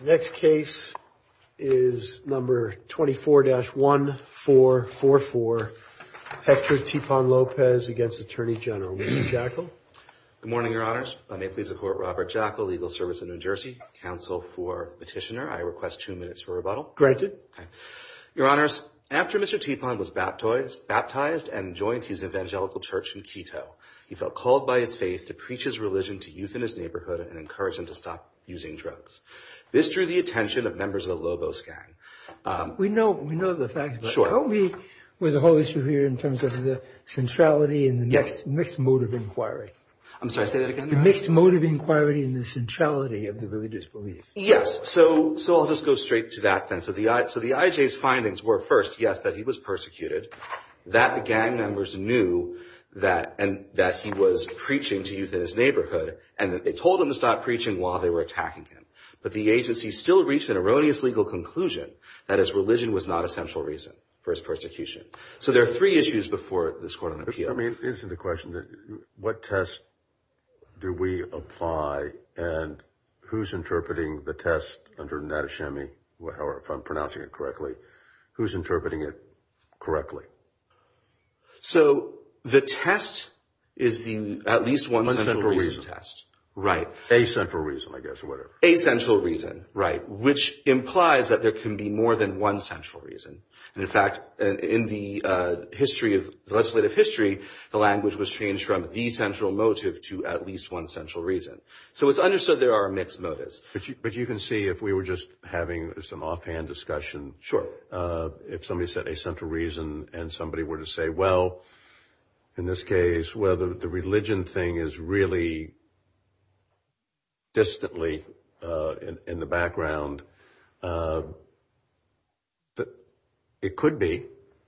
The next case is number 24-1444 Hector Tepan Lopez v. Atty Gen Lee Jekyll Good morning, your honors. I may please report Robert Jekyll, Legal Service of New Jersey, counsel for petitioner. I request two minutes for rebuttal. Granted. Your honors, after Mr. Tepan was baptized and joined his evangelical church in Quito, he felt called by his faith to preach his religion to youth in his neighborhood and encourage them to stop using drugs. This drew the attention of members of the Lobos gang. We know the facts, but help me with the whole issue here in terms of the centrality and the mixed mode of inquiry. I'm sorry, say that again. The mixed mode of inquiry and the centrality of the religious belief. Yes, so I'll just go straight to that then. So the IJ's findings were first, yes, that he was persecuted, that the gang members knew that he was preaching to youth in his neighborhood, and that they told him to stop preaching while they were attacking him. But the agency still reached an erroneous legal conclusion that his religion was not a central reason for his persecution. So there are three issues before this court on appeal. I mean, isn't the question that what test do we apply and who's interpreting the test under Natashemi? However, if I'm pronouncing it correctly, who's interpreting it correctly? So the test is the at least one central reason test. Right. A central reason, I guess, whatever. A central reason. Right. Which implies that there can be more than one central reason. And in fact, in the history of legislative history, the language was changed from the central motive to at least one central reason. So it's understood there are mixed motives. But you can see if we were just having some offhand discussion. Sure. If somebody said a central reason and somebody were to say, well, in this case, whether the religion thing is really. Distantly in the background. It could be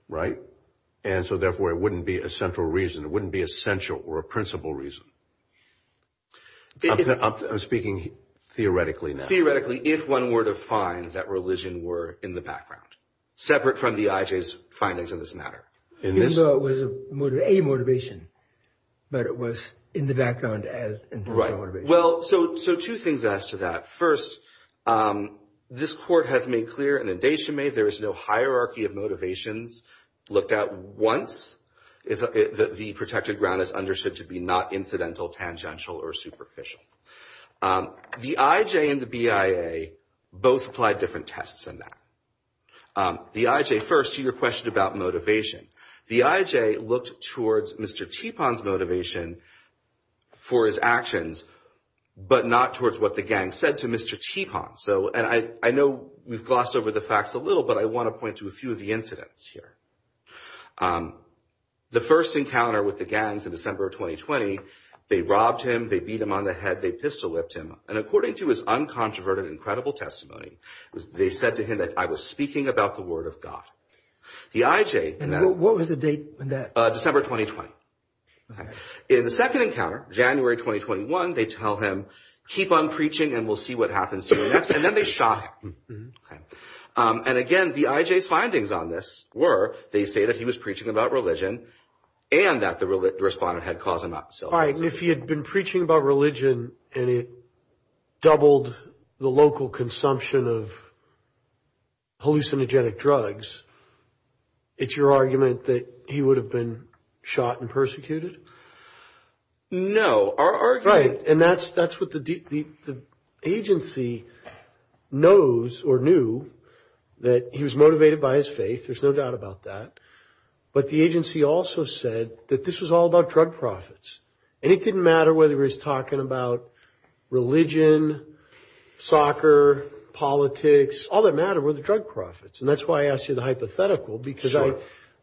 right. And so therefore, it wouldn't be a central reason, it wouldn't be essential or a principal reason. I'm speaking theoretically now. Theoretically, if one were to find that religion were in the background, separate from the IJ's findings in this matter. Even though it was a motivation, but it was in the background as a motivation. Right. Well, so two things as to that. First, this court has made clear in the Natashemi there is no hierarchy of motivations looked at once. The protected ground is understood to be not incidental, tangential or superficial. The IJ and the BIA both applied different tests in that. The IJ first to your question about motivation. The IJ looked towards Mr. Tipon's motivation for his actions, but not towards what the gang said to Mr. Tipon. So and I know we've glossed over the facts a little, but I want to point to a few of the incidents here. The first encounter with the gangs in December of 2020, they robbed him, they beat him on the head, they pistol whipped him. And according to his uncontroverted, incredible testimony, they said to him that I was speaking about the word of God. The IJ. And what was the date on that? December 2020. In the second encounter, January 2021, they tell him, keep on preaching and we'll see what happens. And then they shot him. And again, the IJ's findings on this were they say that he was preaching about religion and that the respondent had caused him. All right. And if he had been preaching about religion and it doubled the local consumption of hallucinogenic drugs, it's your argument that he would have been shot and persecuted? No. Right. And that's what the agency knows or knew that he was motivated by his faith. There's no doubt about that. But the agency also said that this was all about drug profits. And it didn't matter whether he was talking about religion, soccer, politics. All that mattered were the drug profits. And that's why I asked you the hypothetical, because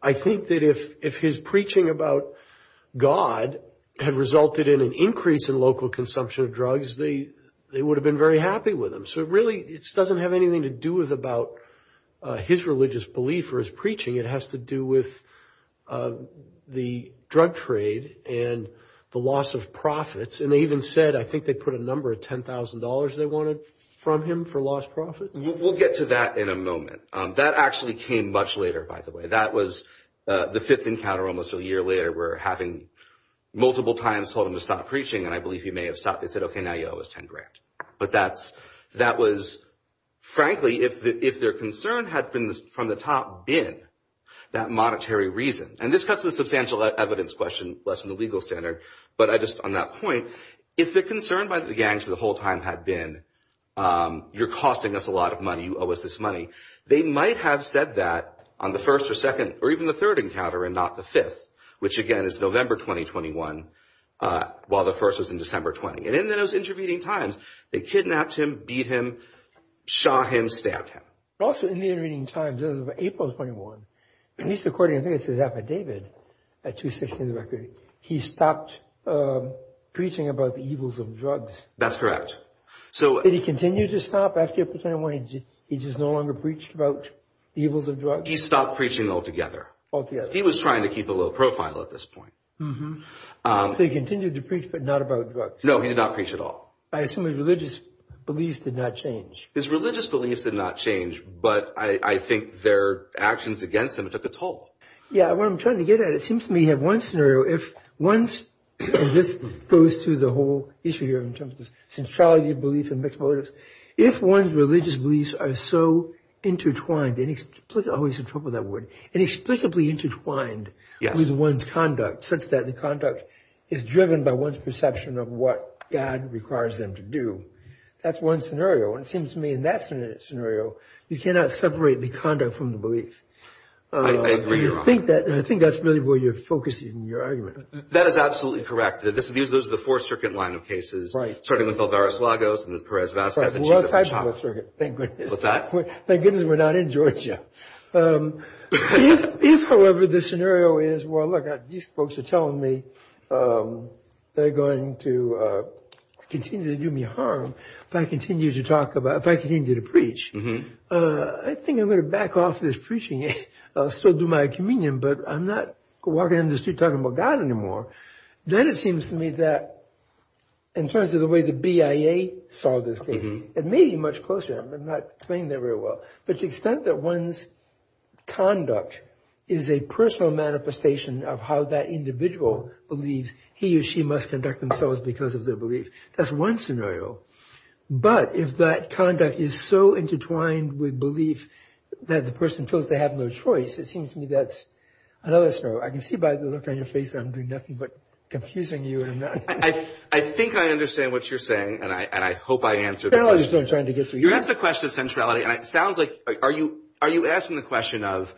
I think that if his preaching about God had resulted in an increase in local consumption of drugs, they would have been very happy with him. So really, it doesn't have anything to do with about his religious belief or his preaching. It has to do with the drug trade and the loss of profits. And they even said, I think they put a number of ten thousand dollars they wanted from him for lost profits. We'll get to that in a moment. That actually came much later, by the way. That was the fifth encounter. Almost a year later, we're having multiple times told him to stop preaching. And I believe he may have said, OK, now you owe us ten grand. But that's that was frankly, if their concern had been from the top been that monetary reason. And this cuts the substantial evidence question less than the legal standard. But I just on that point, if the concern by the gangs the whole time had been you're costing us a lot of money, you owe us this money. They might have said that on the first or second or even the third encounter and not the fifth, which, again, is November 2021, while the first was in December 20. And in those intervening times, they kidnapped him, beat him, shot him, stabbed him. Also, in the intervening times of April 21, at least according to his affidavit, he stopped preaching about the evils of drugs. That's correct. So did he continue to stop after April 21? He just no longer preached about the evils of drugs. He stopped preaching altogether. Altogether. He was trying to keep a low profile at this point. He continued to preach, but not about drugs. No, he did not preach at all. I assume his religious beliefs did not change. His religious beliefs did not change. But I think their actions against him took a toll. Yeah, what I'm trying to get at, it seems to me you have one scenario. This goes to the whole issue here in terms of centrality of belief and mixed motives. If one's religious beliefs are so intertwined and explicably intertwined with one's conduct, such that the conduct is driven by one's perception of what God requires them to do. That's one scenario. And it seems to me in that scenario, you cannot separate the conduct from the belief. I agree. I think that's really where you're focusing your argument. That is absolutely correct. Those are the four-circuit line of cases, starting with Alvarez-Lagos and Perez-Vazquez. Thank goodness we're not in Georgia. If, however, the scenario is, well, look, these folks are telling me they're going to continue to do me harm if I continue to talk about, if I continue to preach, I think I'm going to back off this preaching. I'll still do my communion, but I'm not walking down the street talking about God anymore. Then it seems to me that in terms of the way the BIA saw this case, it may be much closer. I'm not playing there very well. But the extent that one's conduct is a personal manifestation of how that individual believes he or she must conduct themselves because of their beliefs, that's one scenario. But if that conduct is so intertwined with belief that the person feels they have no choice, it seems to me that's another scenario. I can see by the look on your face that I'm doing nothing but confusing you. I think I understand what you're saying, and I hope I answered it. That's what I'm trying to get to. You asked the question of centrality, and it sounds like, are you asking the question of,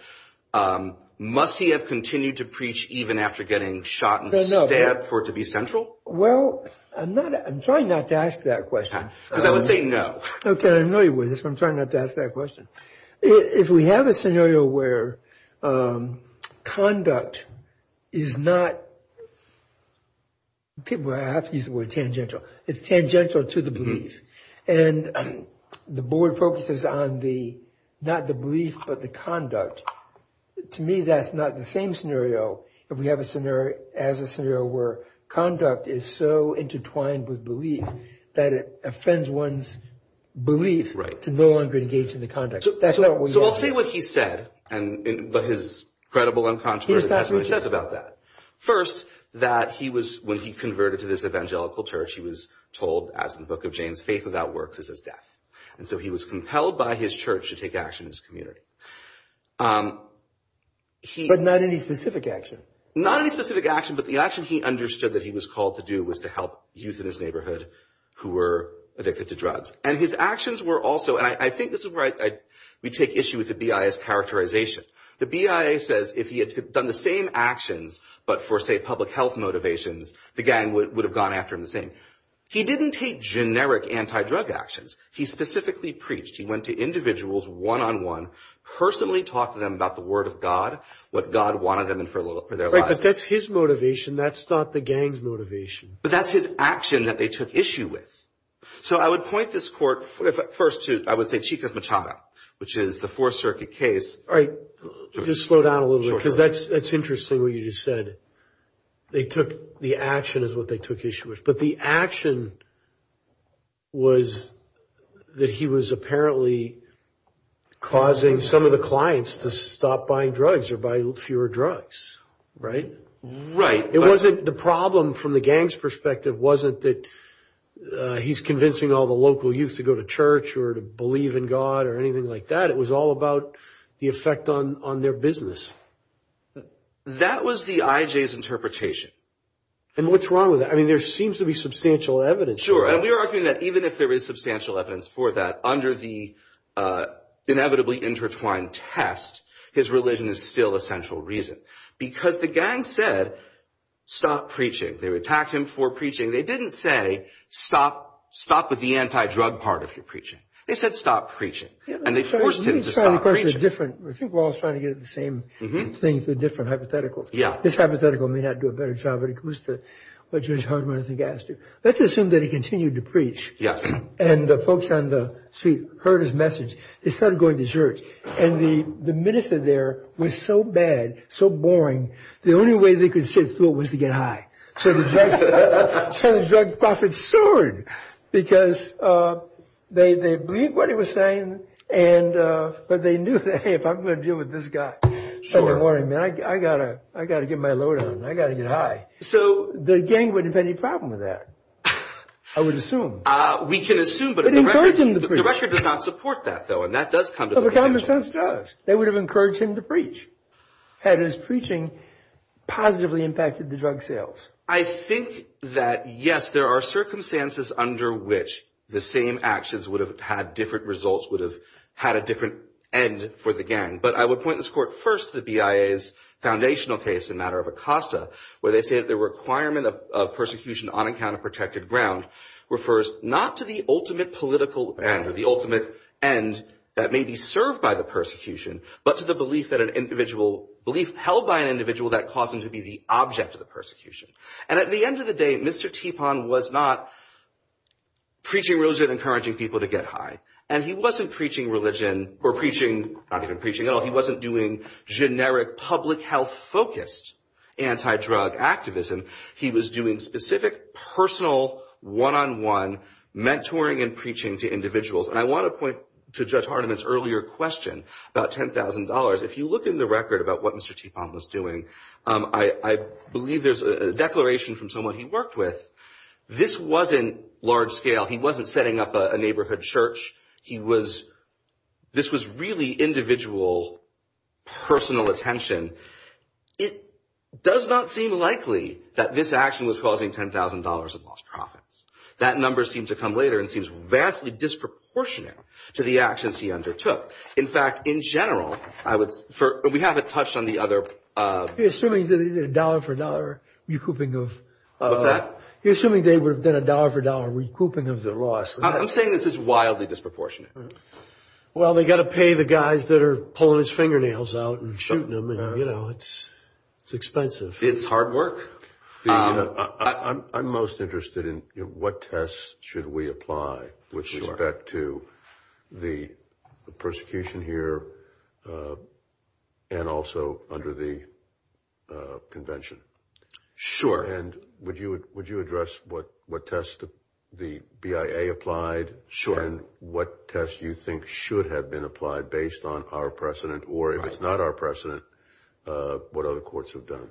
must he have continued to preach even after getting shot and stabbed for it to be central? Well, I'm trying not to ask that question. Because I would say no. Okay, I know you wouldn't, so I'm trying not to ask that question. If we have a scenario where conduct is not tangential to the belief, and the board focuses on not the belief but the conduct, to me that's not the same scenario if we have a scenario where conduct is so intertwined with belief that it offends one's belief to no longer engage in the conduct. So I'll say what he said, but his credible and controversial testimony says about that. First, that he was, when he converted to this evangelical church, he was told, as in the book of James, faith without works is as death. And so he was compelled by his church to take action in his community. But not any specific action. Not any specific action, but the action he understood that he was called to do was to help youth in his neighborhood who were addicted to drugs. And his actions were also, and I think this is where we take issue with the BIA's characterization. The BIA says if he had done the same actions but for, say, public health motivations, the gang would have gone after him the same. He didn't take generic anti-drug actions. He specifically preached. He went to individuals one-on-one, personally talked to them about the word of God, what God wanted of them for their lives. Right, but that's his motivation. That's not the gang's motivation. But that's his action that they took issue with. So I would point this court first to, I would say, Chica's Machado, which is the Fourth Circuit case. All right, just slow down a little bit because that's interesting what you just said. The action is what they took issue with. But the action was that he was apparently causing some of the clients to stop buying drugs or buy fewer drugs, right? Right. The problem from the gang's perspective wasn't that he's convincing all the local youth to go to church or to believe in God or anything like that. It was all about the effect on their business. That was the IJ's interpretation. And what's wrong with that? I mean, there seems to be substantial evidence for that. Sure, and we are arguing that even if there is substantial evidence for that, under the inevitably intertwined test, his religion is still a central reason. Because the gang said, stop preaching. They attacked him for preaching. They didn't say, stop with the anti-drug part of your preaching. They said, stop preaching. And they forced him to stop preaching. I think we're all trying to get at the same thing through different hypotheticals. This hypothetical may not do a better job, but it goes to what Judge Hardman, I think, asked you. Let's assume that he continued to preach. And the folks on the street heard his message. They started going to church. And the minister there was so bad, so boring, the only way they could sit through it was to get high. So the drug profit soared. Because they believed what he was saying, but they knew that, hey, if I'm going to deal with this guy Sunday morning, I've got to get my load on. I've got to get high. So the gang wouldn't have any problem with that, I would assume. We can assume, but the record does not support that, though. And that does come to the attention. They would have encouraged him to preach. Had his preaching positively impacted the drug sales? I think that, yes, there are circumstances under which the same actions would have had different results, would have had a different end for the gang. But I would point this court first to the BIA's foundational case in the matter of Acosta, where they say that the requirement of persecution on a counterprotected ground refers not to the ultimate political end or the ultimate end that may be served by the persecution, but to the belief held by an individual that caused him to be the object of the persecution. And at the end of the day, Mr. Tipon was not preaching religion and encouraging people to get high. And he wasn't preaching religion or preaching – not even preaching at all. He wasn't doing generic public health-focused anti-drug activism. He was doing specific, personal, one-on-one mentoring and preaching to individuals. And I want to point to Judge Hardiman's earlier question about $10,000. If you look in the record about what Mr. Tipon was doing, I believe there's a declaration from someone he worked with. This wasn't large-scale. He wasn't setting up a neighborhood church. He was – this was really individual, personal attention. It does not seem likely that this action was causing $10,000 of lost profits. That number seems to come later and seems vastly disproportionate to the actions he undertook. In fact, in general, I would – we haven't touched on the other – He's assuming that it's a dollar-for-dollar recouping of – What's that? He's assuming they would have done a dollar-for-dollar recouping of the loss. I'm saying this is wildly disproportionate. Well, they've got to pay the guys that are pulling his fingernails out and shooting him. You know, it's expensive. It's hard work. I'm most interested in what tests should we apply with respect to the persecution here and also under the convention. Sure. And would you address what tests the BIA applied? Sure. And what tests you think should have been applied based on our precedent? Or if it's not our precedent, what other courts have done?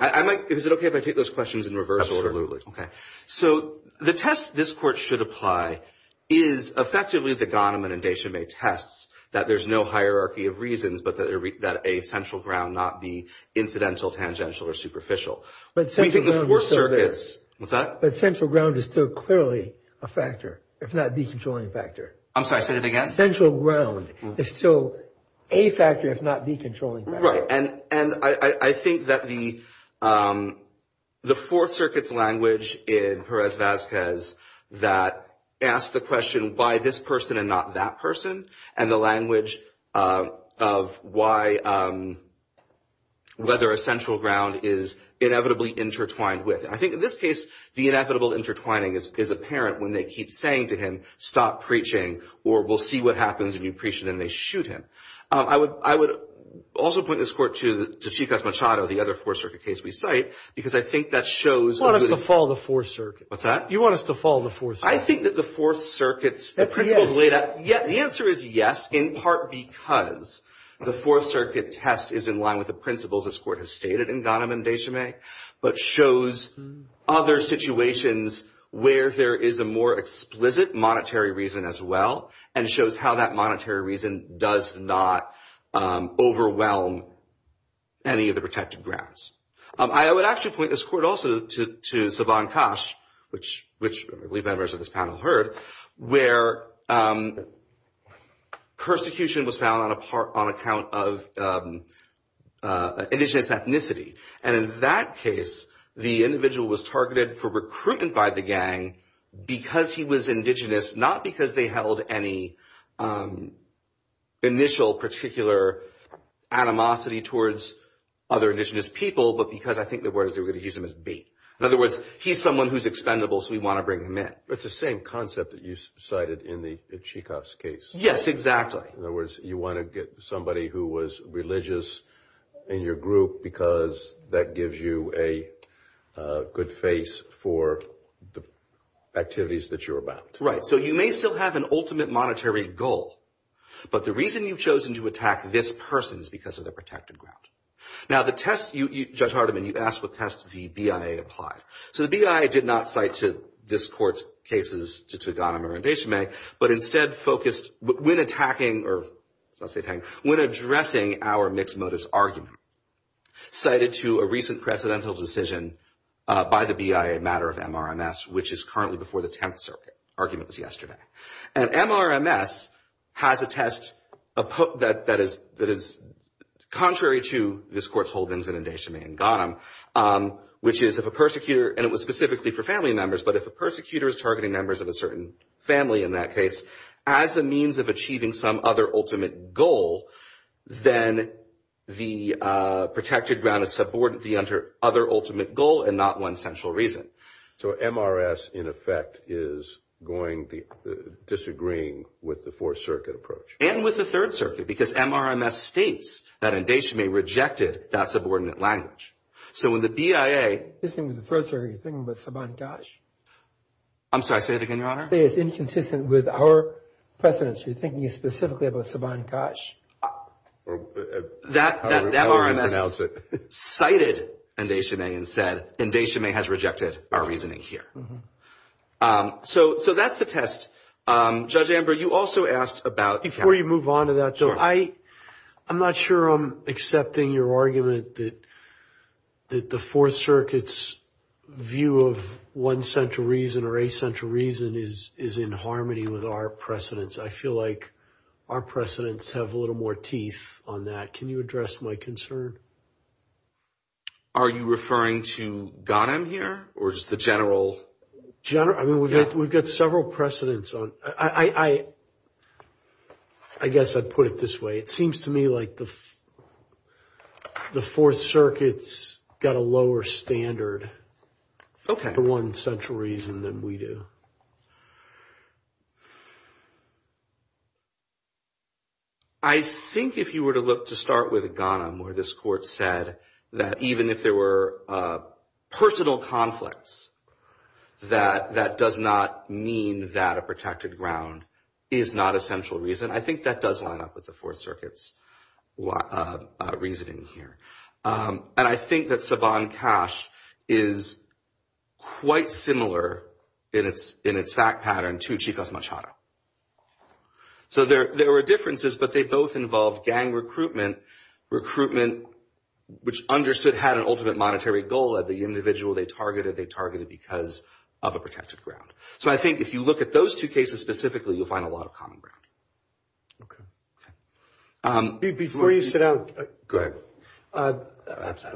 I might – is it okay if I take those questions in reverse order? Okay. So the test this court should apply is effectively the Gahneman and Deschamais tests that there's no hierarchy of reasons, but that a central ground not be incidental, tangential, or superficial. But central ground is still there. I'm sorry, say that again? Central ground is still a factor, if not the controlling factor. Right. And I think that the Fourth Circuit's language in Perez-Vazquez that asked the question, why this person and not that person, and the language of why – whether a central ground is inevitably intertwined with. I think in this case, the inevitable intertwining is apparent when they keep saying to him, stop preaching or we'll see what happens when you preach and then they shoot him. I would also point this court to Chico Machado, the other Fourth Circuit case we cite, because I think that shows. You want us to follow the Fourth Circuit. What's that? You want us to follow the Fourth Circuit. I think that the Fourth Circuit's principles laid out. The answer is yes, in part because the Fourth Circuit test is in line with the principles this court has stated in Gahneman and Deschamais, but shows other situations where there is a more explicit monetary reason as well and shows how that monetary reason does not overwhelm any of the protected grounds. I would actually point this court also to Saban Cash, which I believe members of this panel heard, where persecution was found on account of indigenous ethnicity. And in that case, the individual was targeted for recruitment by the gang because he was indigenous, not because they held any initial particular animosity towards other indigenous people, but because I think the words they were going to use him as bait. In other words, he's someone who's expendable, so we want to bring him in. It's the same concept that you cited in the Chico's case. Yes, exactly. In other words, you want to get somebody who was religious in your group because that gives you a good face for the activities that you're about. Right. So you may still have an ultimate monetary goal, but the reason you've chosen to attack this person is because of the protected ground. Now, the test, Judge Hardiman, you asked what test the BIA applied. So the BIA did not cite this court's cases to Gahneman or Deschamais, but instead focused when attacking or when addressing our mixed motives argument, cited to a recent precedental decision by the BIA matter of MRMS, which is currently before the Tenth Circuit. The argument was yesterday. And MRMS has a test that is contrary to this court's holdings in Deschamais and Gahneman, which is if a persecutor, and it was specifically for family members, but if a persecutor is targeting members of a certain family in that case, as a means of achieving some other ultimate goal, then the protected ground is subordinate to the other ultimate goal and not one central reason. So MRS, in effect, is going to disagree with the Fourth Circuit approach. And with the Third Circuit because MRMS states that Deschamais rejected that subordinate language. So when the BIA. This thing with the Third Circuit, are you thinking about Saban-Kash? I'm sorry, say it again, Your Honor. It's inconsistent with our precedents. You're thinking specifically about Saban-Kash. That MRMS cited Deschamais and said Deschamais has rejected our reasoning here. So that's the test. Judge Amber, you also asked about. Before you move on to that, I'm not sure I'm accepting your argument that the Fourth Circuit's view of one central reason or a central reason is in harmony with our precedents. I feel like our precedents have a little more teeth on that. Can you address my concern? Are you referring to Ghanem here or is the general? We've got several precedents. I guess I'd put it this way. It seems to me like the Fourth Circuit's got a lower standard for one central reason than we do. I think if you were to look to start with Ghanem where this court said that even if there were personal conflicts, that that does not mean that a protected ground is not a central reason. I think that does line up with the Fourth Circuit's reasoning here. And I think that Saban Cash is quite similar in its fact pattern to Chico's Machado. So there were differences, but they both involved gang recruitment, recruitment which understood had an ultimate monetary goal. The individual they targeted, they targeted because of a protected ground. So I think if you look at those two cases specifically, you'll find a lot of common ground. Okay. Before you sit down. Go ahead.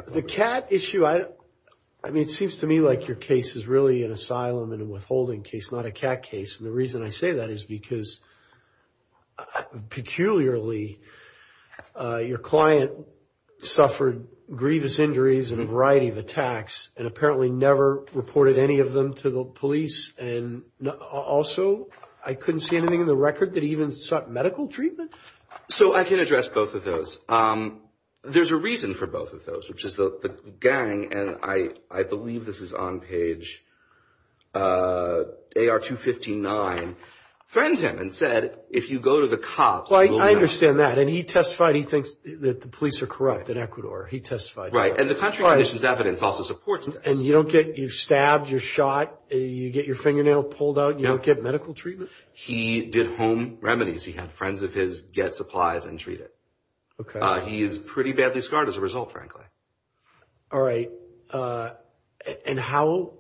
The cat issue, I mean it seems to me like your case is really an asylum and withholding case, not a cat case. And the reason I say that is because peculiarly your client suffered grievous injuries and a variety of attacks and apparently never reported any of them to the police. And also, I couldn't see anything in the record that he even sought medical treatment. So I can address both of those. There's a reason for both of those, which is the gang, and I believe this is on page AR-259, threatened him and said, if you go to the cops, you will know. Well, I understand that. And he testified he thinks that the police are corrupt in Ecuador. He testified that. Right. And the country conditions evidence also supports this. And you don't get, you're stabbed, you're shot, you get your fingernail pulled out, you don't get medical treatment? He did home remedies. He had friends of his get supplies and treat it. Okay. He is pretty badly scarred as a result, frankly. All right. And how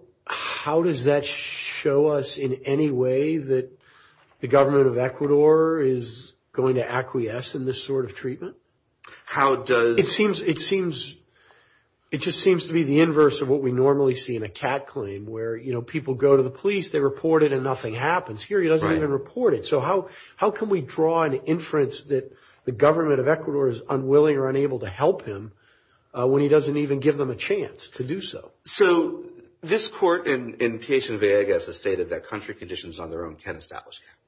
does that show us in any way that the government of Ecuador is going to acquiesce in this sort of treatment? How does? I mean, it seems, it just seems to be the inverse of what we normally see in a cat claim where, you know, people go to the police, they report it, and nothing happens. Here he doesn't even report it. So how can we draw an inference that the government of Ecuador is unwilling or unable to help him when he doesn't even give them a chance to do so? So this court in Quechua and Villegas has stated that country conditions on their own can establish cat.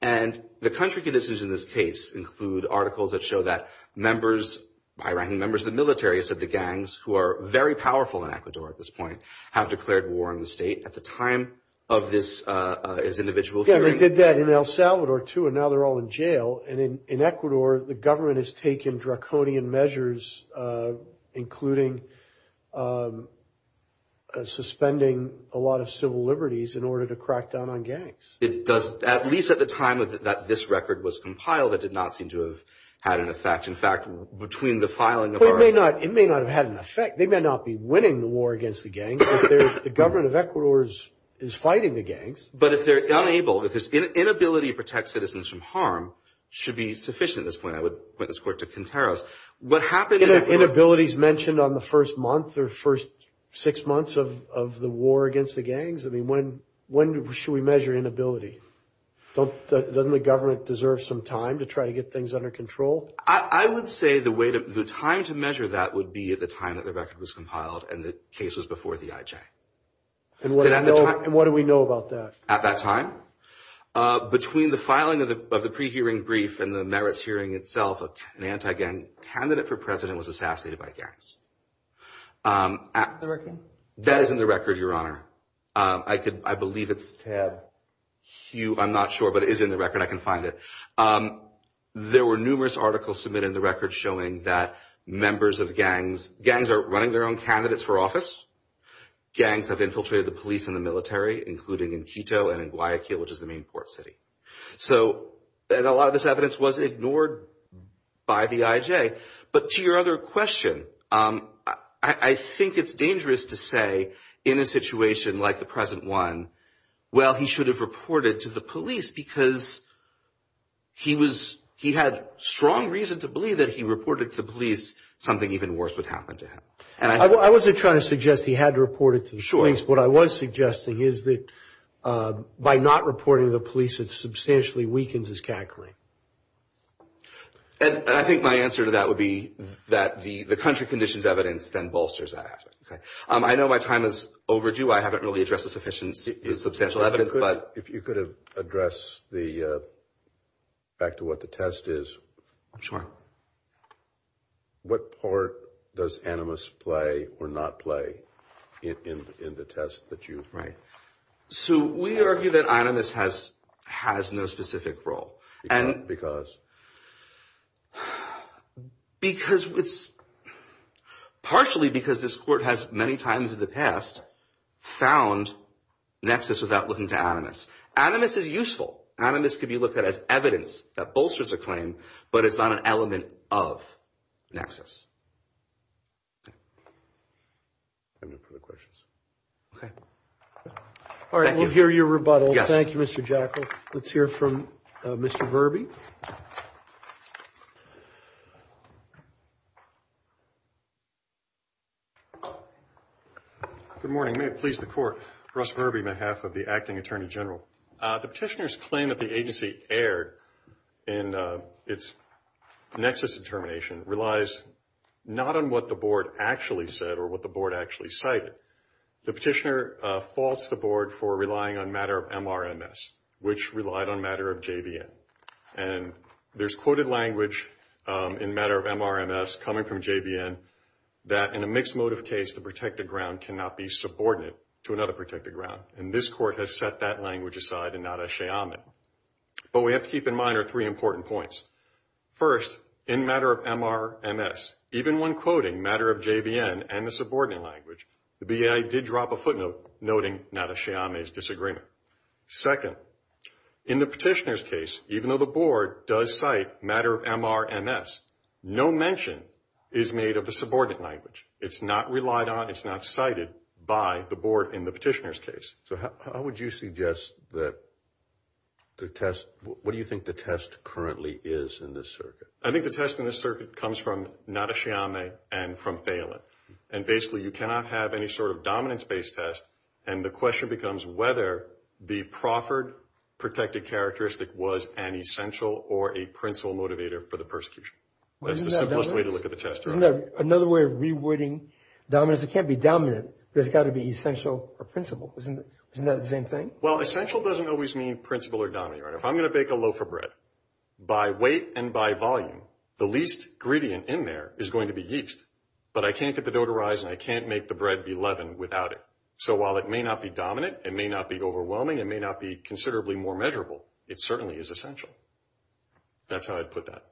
And the country conditions in this case include articles that show that members, Iranian members of the military, it said the gangs who are very powerful in Ecuador at this point, have declared war on the state at the time of this individual. Yeah, they did that in El Salvador, too, and now they're all in jail. And in Ecuador, the government has taken draconian measures, including suspending a lot of civil liberties in order to crack down on gangs. It does, at least at the time that this record was compiled, it did not seem to have had an effect. In fact, between the filing of our- Well, it may not have had an effect. They may not be winning the war against the gangs. The government of Ecuador is fighting the gangs. But if they're unable, if there's inability to protect citizens from harm, it should be sufficient at this point. I would point this court to Quinteros. What happened in Ecuador- Inabilities mentioned on the first month or first six months of the war against the gangs. I mean, when should we measure inability? Doesn't the government deserve some time to try to get things under control? I would say the time to measure that would be at the time that the record was compiled and the case was before the IJ. And what do we know about that? At that time? Between the filing of the pre-hearing brief and the merits hearing itself, an anti-gang candidate for president was assassinated by gangs. The record? That is in the record, Your Honor. I believe it's tab Q. I'm not sure, but it is in the record. I can find it. There were numerous articles submitted in the record showing that members of gangs- Gangs are running their own candidates for office. Gangs have infiltrated the police and the military, including in Quito and in Guayaquil, which is the main port city. And a lot of this evidence was ignored by the IJ. But to your other question, I think it's dangerous to say, in a situation like the present one, well, he should have reported to the police because he had strong reason to believe that if he reported to the police, something even worse would happen to him. I wasn't trying to suggest he had to report it to the police. Sure. What I was suggesting is that by not reporting to the police, it substantially weakens his cackling. And I think my answer to that would be that the country conditions evidence then bolsters that. I know my time is overdue. I haven't really addressed the sufficiency of substantial evidence. If you could address the- back to what the test is. Sure. What part does Animus play or not play in the test that you- Right. So we argue that Animus has no specific role. Because? Because it's partially because this court has many times in the past found nexus without looking to Animus. Animus is useful. Animus could be looked at as evidence that bolsters a claim, but it's not an element of nexus. I have no further questions. Okay. All right. Thank you. We'll hear your rebuttal. Yes. Thank you, Mr. Jackal. Let's hear from Mr. Verby. Good morning. May it please the Court. Russ Verby, on behalf of the Acting Attorney General. The petitioner's claim that the agency erred in its nexus determination relies not on what the board actually said or what the board actually cited. The petitioner faults the board for relying on matter of MRMS, which relied on matter of JVN. And there's quoted language in matter of MRMS coming from JVN that in a mixed motive case, the protected ground cannot be subordinate to another protected ground. And this court has set that language aside and not a sheamen. But what we have to keep in mind are three important points. First, in matter of MRMS, even when quoting matter of JVN and the subordinate language, the BIA did drop a footnote noting not a sheamen's disagreement. Second, in the petitioner's case, even though the board does cite matter of MRMS, no mention is made of the subordinate language. It's not relied on. It's not cited by the board in the petitioner's case. So how would you suggest that the test, what do you think the test currently is in this circuit? I think the test in this circuit comes from not a sheamen and from failing. And basically, you cannot have any sort of dominance-based test. And the question becomes whether the proffered protected characteristic was an essential or a principal motivator for the persecution. That's the simplest way to look at the test. Isn't there another way of rewording dominance? Because it can't be dominant, but it's got to be essential or principal. Isn't that the same thing? Well, essential doesn't always mean principal or dominant. If I'm going to bake a loaf of bread, by weight and by volume, the least gradient in there is going to be yeast. But I can't get the dough to rise and I can't make the bread be leavened without it. So while it may not be dominant, it may not be overwhelming, it may not be considerably more measurable, it certainly is essential. That's how I'd put that.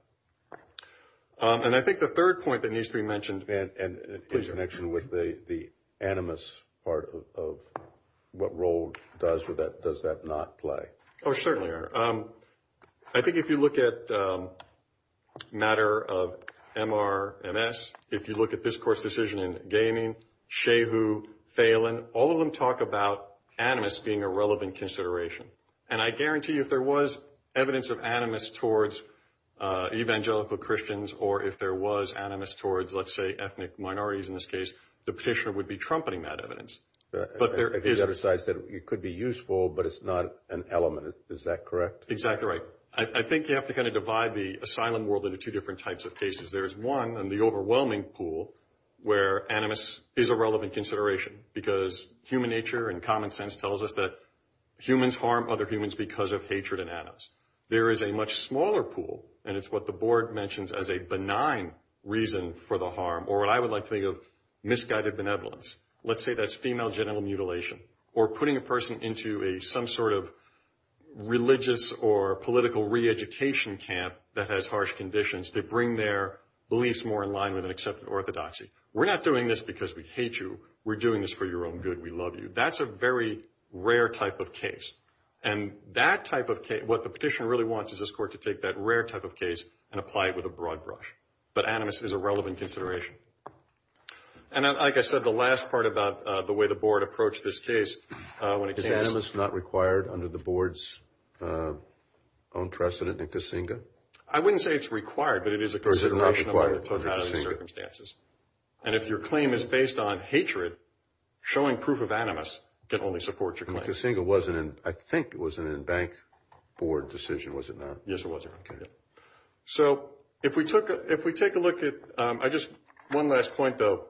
And I think the third point that needs to be mentioned. And in connection with the animus part of what role does that not play. Oh, certainly. I think if you look at the matter of MRMS, if you look at this course decision in gaming, Shehu, Phalen, all of them talk about animus being a relevant consideration. And I guarantee you if there was evidence of animus towards evangelical Christians, or if there was animus towards, let's say, ethnic minorities in this case, the petitioner would be trumpeting that evidence. But there is. The other side said it could be useful, but it's not an element. Is that correct? Exactly right. I think you have to kind of divide the asylum world into two different types of cases. There's one in the overwhelming pool where animus is a relevant consideration. Because human nature and common sense tells us that humans harm other humans because of hatred and animus. There is a much smaller pool, and it's what the board mentions as a benign reason for the harm, or what I would like to think of misguided benevolence. Let's say that's female genital mutilation. Or putting a person into some sort of religious or political re-education camp that has harsh conditions to bring their beliefs more in line with an accepted orthodoxy. We're not doing this because we hate you. We're doing this for your own good. We love you. That's a very rare type of case. And that type of case, what the petitioner really wants is this court to take that rare type of case and apply it with a broad brush. But animus is a relevant consideration. And like I said, the last part about the way the board approached this case when it came to this. Is animus not required under the board's own precedent in Kasinga? I wouldn't say it's required, but it is a consideration. Or is it not required in Kasinga? And if your claim is based on hatred, showing proof of animus can only support your claim. Kasinga wasn't in, I think it was in a bank board decision, was it not? Yes, it was. Okay. So if we take a look at, I just, one last point, though,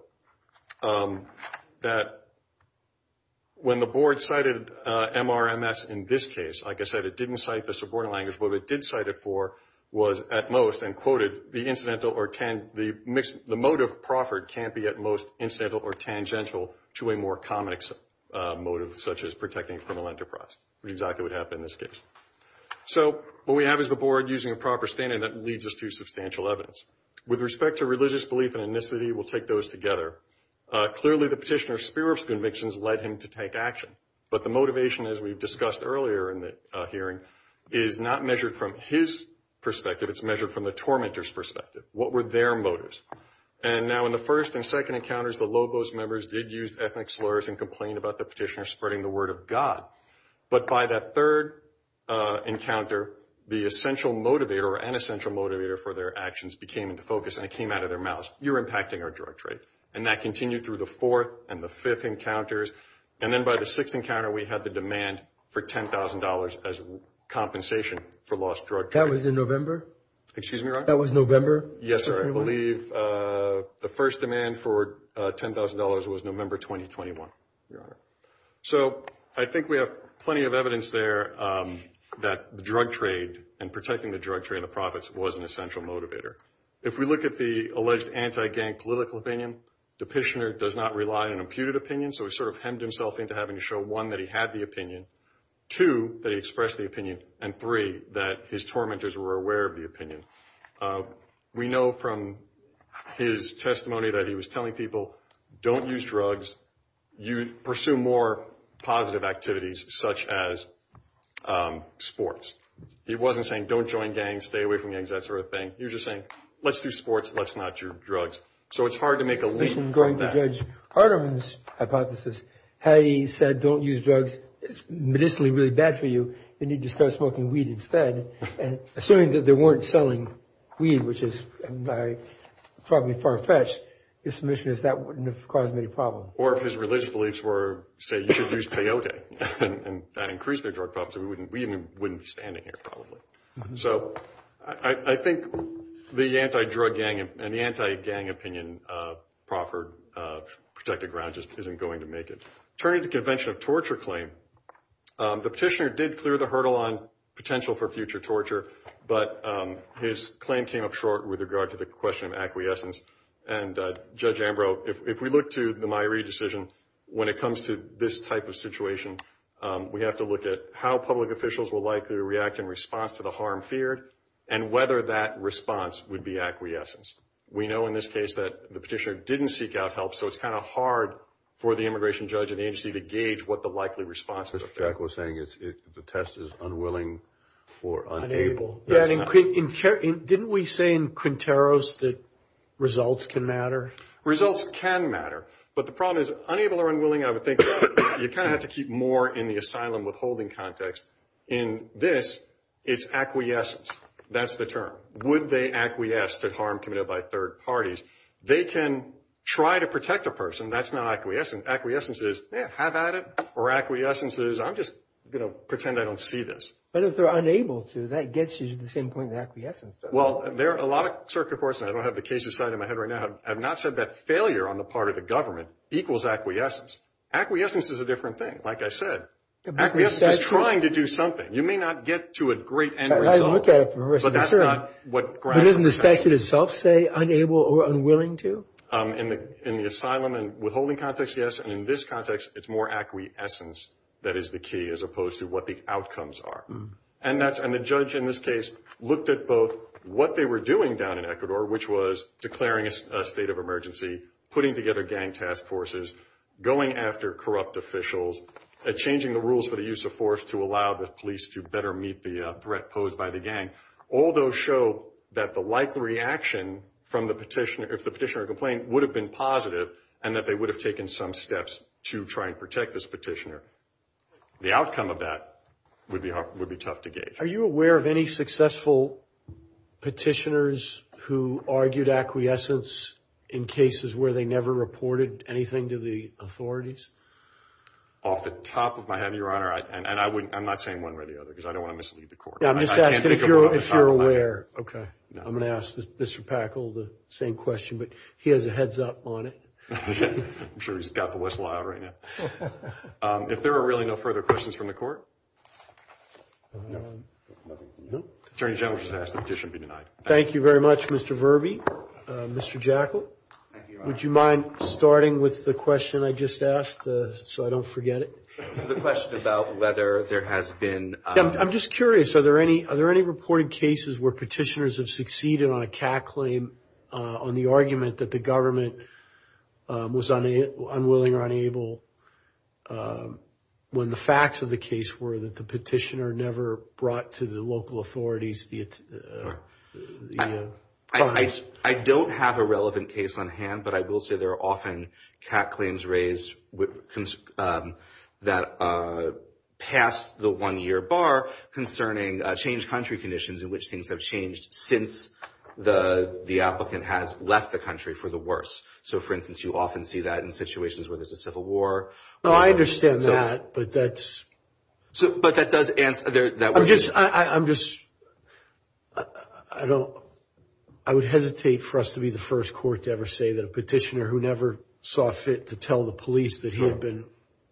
that when the board cited MRMS in this case, like I said, it didn't cite the subordinate language. What it did cite it for was, at most, and quoted, the motive proffered can't be at most incidental or tangential to a more common motive, such as protecting a criminal enterprise, which exactly would happen in this case. So what we have is the board using a proper standard that leads us to substantial evidence. With respect to religious belief and ethnicity, we'll take those together. Clearly, the petitioner's spurious convictions led him to take action. But the motivation, as we've discussed earlier in the hearing, is not measured from his perspective. It's measured from the tormentor's perspective. What were their motives? And now in the first and second encounters, the Lobos members did use ethnic slurs and complain about the petitioner spreading the word of God. But by that third encounter, the essential motivator or an essential motivator for their actions became into focus, and it came out of their mouths. You're impacting our drug trade. And that continued through the fourth and the fifth encounters. And then by the sixth encounter, we had the demand for $10,000 as compensation for lost drug trade. That was in November? Excuse me, Your Honor? That was November? Yes, sir. I believe the first demand for $10,000 was November 2021, Your Honor. So I think we have plenty of evidence there that the drug trade and protecting the drug trade and the profits was an essential motivator. If we look at the alleged anti-gang political opinion, the petitioner does not rely on an imputed opinion, so he sort of hemmed himself into having to show, one, that he had the opinion, two, that he expressed the opinion, and three, that his tormentors were aware of the opinion. We know from his testimony that he was telling people, don't use drugs, pursue more positive activities such as sports. He wasn't saying, don't join gangs, stay away from gangs, that sort of thing. He was just saying, let's do sports, let's not do drugs. So it's hard to make a leap from that. I'm going to judge Hardeman's hypothesis. Had he said, don't use drugs, it's medicinally really bad for you, you need to start smoking weed instead. Assuming that they weren't selling weed, which is probably far-fetched, his submission is that wouldn't have caused any problem. Or if his religious beliefs were, say, you should use peyote, and that increased their drug profits, we wouldn't be standing here probably. So I think the anti-drug gang and the anti-gang opinion, Profford Protected Ground just isn't going to make it. Turning to the Convention of Torture claim, the petitioner did clear the hurdle on potential for future torture, but his claim came up short with regard to the question of acquiescence. Judge Ambrose, if we look to the Myree decision, when it comes to this type of situation, we have to look at how public officials will likely react in response to the harm feared, and whether that response would be acquiescence. We know in this case that the petitioner didn't seek out help, so it's kind of hard for the immigration judge and agency to gauge what the likely response would be. Jack was saying the test is unwilling for unable. Didn't we say in Quinteros that results can matter? Results can matter. But the problem is, unable or unwilling, I would think you kind of have to keep more in the asylum withholding context. In this, it's acquiescence. That's the term. Would they acquiesce to harm committed by third parties? They can try to protect a person. That's not acquiescence. Acquiescence is, yeah, have at it. Or acquiescence is, I'm just going to pretend I don't see this. But if they're unable to, that gets you to the same point as acquiescence does. Well, there are a lot of circuit courts, and I don't have the cases slide in my head right now, have not said that failure on the part of the government equals acquiescence. Acquiescence is a different thing, like I said. Acquiescence is trying to do something. You may not get to a great end result. But that's not what grounds for failure. But doesn't the statute itself say unable or unwilling to? In the asylum and withholding context, yes. And in this context, it's more acquiescence that is the key, as opposed to what the outcomes are. And the judge in this case looked at both what they were doing down in Ecuador, which was declaring a state of emergency, putting together gang task forces, going after corrupt officials, changing the rules for the use of force to allow the police to better meet the threat posed by the gang. All those show that the likely reaction from the petitioner, if the petitioner complained, would have been positive and that they would have taken some steps to try and protect this petitioner. The outcome of that would be tough to gauge. Are you aware of any successful petitioners who argued acquiescence in cases where they never reported anything to the authorities? Off the top of my head, Your Honor, and I'm not saying one way or the other because I don't want to mislead the court. I'm just asking if you're aware. I'm going to ask Mr. Packle the same question, but he has a heads up on it. I'm sure he's got the whistle out right now. If there are really no further questions from the court? No. Attorney General just asked the petition be denied. Thank you very much, Mr. Verby. Mr. Jekyll, would you mind starting with the question I just asked so I don't forget it? The question about whether there has been— I'm just curious. Are there any reported cases where petitioners have succeeded on a cat claim on the argument that the government was unwilling or unable when the facts of the case were that the petitioner never brought to the local authorities? I don't have a relevant case on hand, but I will say there are often cat claims raised that pass the one-year bar concerning changed country conditions in which things have changed since the applicant has left the country for the worse. So, for instance, you often see that in situations where there's a civil war. I understand that, but that's— But that does answer— I'm just—I would hesitate for us to be the first court to ever say that a petitioner who never saw fit to tell the police that he had been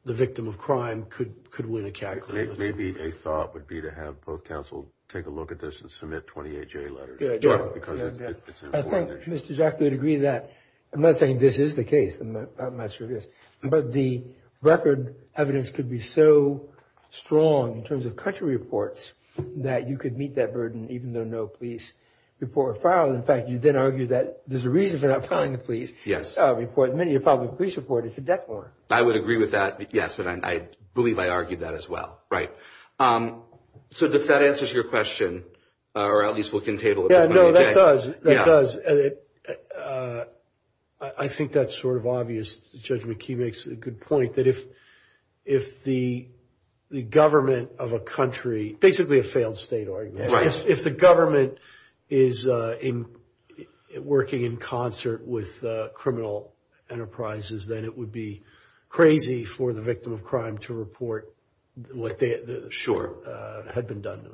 the victim of crime could win a cat claim. Maybe a thought would be to have both counsel take a look at this and submit 28-J letters. Because it's important. I think Mr. Jackley would agree to that. I'm not saying this is the case. I'm not sure it is. But the record evidence could be so strong in terms of country reports that you could meet that burden even though no police report filed. In fact, you then argue that there's a reason for not filing a police report. Many a public police report is a death warrant. I would agree with that. Yes, and I believe I argued that as well. Right. So, does that answer your question? Or at least will it entail— Yeah, no, that does. That does. I think that's sort of obvious. Judge McKee makes a good point that if the government of a country— basically a failed state argument. Right. If the government is working in concert with criminal enterprises, then it would be crazy for the victim of crime to report what had been done.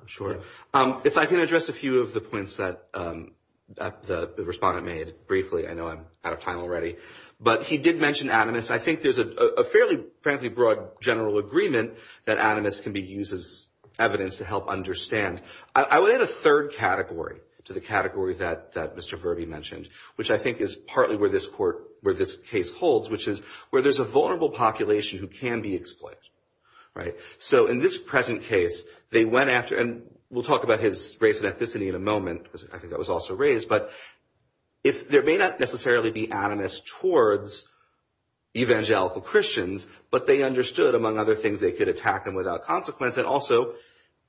If I can address a few of the points that the respondent made briefly. I know I'm out of time already. But he did mention animus. I think there's a fairly, frankly, broad general agreement that animus can be used as evidence to help understand. I would add a third category to the category that Mr. Verby mentioned, which I think is partly where this case holds, which is where there's a vulnerable population who can be exploited. Right. So, in this present case, they went after—and we'll talk about his race and ethnicity in a moment. I think that was also raised. But there may not necessarily be animus towards evangelical Christians, but they understood, among other things, they could attack them without consequence. And also,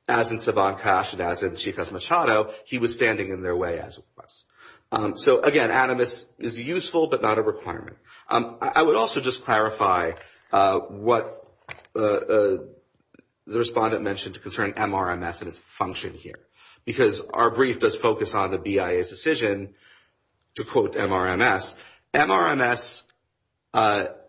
as in Sabancash and as in Chico Machado, he was standing in their way as it was. So, again, animus is useful but not a requirement. I would also just clarify what the respondent mentioned concerning MRMS and its function here. Because our brief does focus on the BIA's decision to quote MRMS. MRMS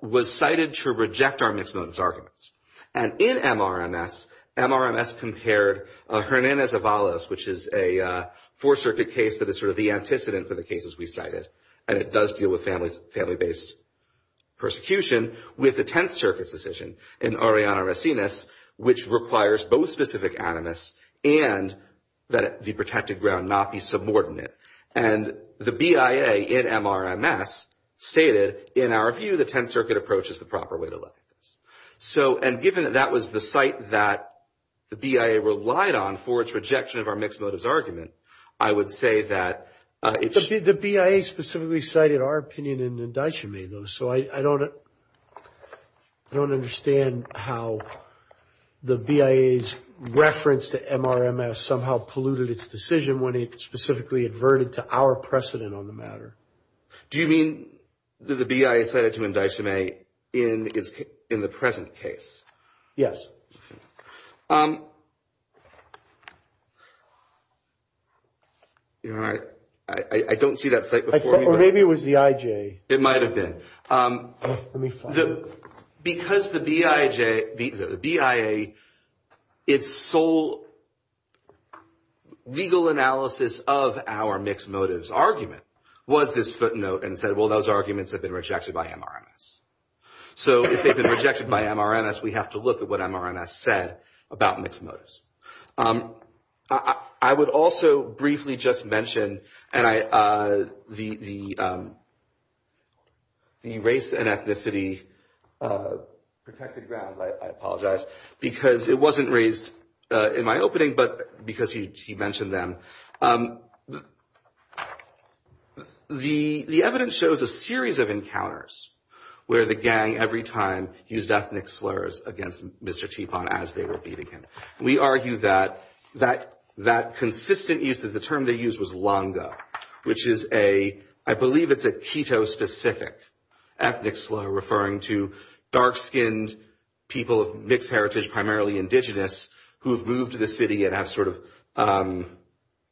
was cited to reject our mixed motives arguments. And in MRMS, MRMS compared Hernanez-Avalos, which is a Fourth Circuit case that is sort of the antecedent for the cases we cited, and it does deal with family-based persecution, with the Tenth Circuit's decision in Ariana Racines, which requires both specific animus and that the protected ground not be subordinate. And the BIA in MRMS stated, in our view, the Tenth Circuit approach is the proper way to look at this. So, and given that that was the site that the BIA relied on for its rejection of our mixed motives argument, I would say that it's – The BIA specifically cited our opinion in Ndeichame, though, so I don't understand how the BIA's reference to MRMS somehow polluted its decision when it specifically adverted to our precedent on the matter. Do you mean that the BIA cited to Ndeichame in the present case? I don't see that site before me. Or maybe it was the IJ. It might have been. Let me find it. Because the BIA, its sole legal analysis of our mixed motives argument was this footnote and said, well, those arguments have been rejected by MRMS. So if they've been rejected by MRMS, we have to look at what MRMS said about mixed motives. I would also briefly just mention the race and ethnicity protected grounds, I apologize, because it wasn't raised in my opening, but because you mentioned them. The evidence shows a series of encounters where the gang, every time, used ethnic slurs against Mr. Teapot as they were beating him. We argue that that consistent use of the term they used was langa, which is a, I believe it's a Quito-specific ethnic slur referring to dark-skinned people of mixed heritage, primarily indigenous, who have moved to the city and have sort of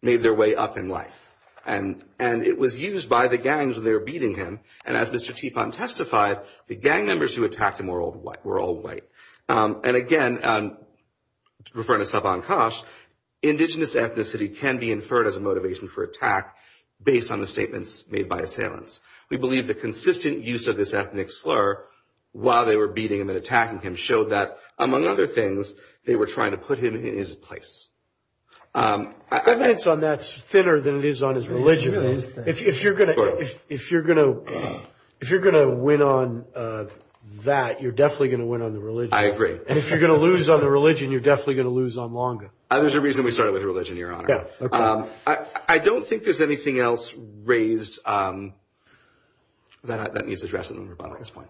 made their way up in life. And it was used by the gangs when they were beating him. And as Mr. Teapot testified, the gang members who attacked him were all white. And again, referring to Sabancash, indigenous ethnicity can be inferred as a motivation for attack based on the statements made by assailants. We believe the consistent use of this ethnic slur while they were beating him and attacking him showed that, among other things, they were trying to put him in his place. Evidence on that is thinner than it is on his religion. If you're going to win on that, you're definitely going to win on the religion. I agree. And if you're going to lose on the religion, you're definitely going to lose on langa. There's a reason we started with religion, Your Honor. I don't think there's anything else raised that needs addressing at this point.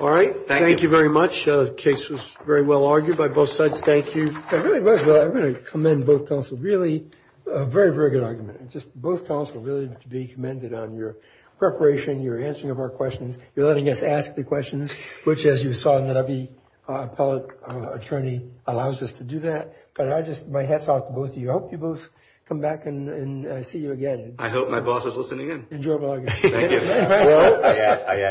All right. Thank you. Thank you very much. The case was very well argued by both sides. Thank you. It really was, Will. I'm going to commend both counsels. Really, a very, very good argument. Just both counsels really need to be commended on your preparation, your answering of our questions, your letting us ask the questions, which as you saw in the lobby, our appellate attorney allows us to do that. But my hat's off to both of you. I hope you both come back and see you again. I hope my boss is listening in. Enjoy blogging. Thank you. Will?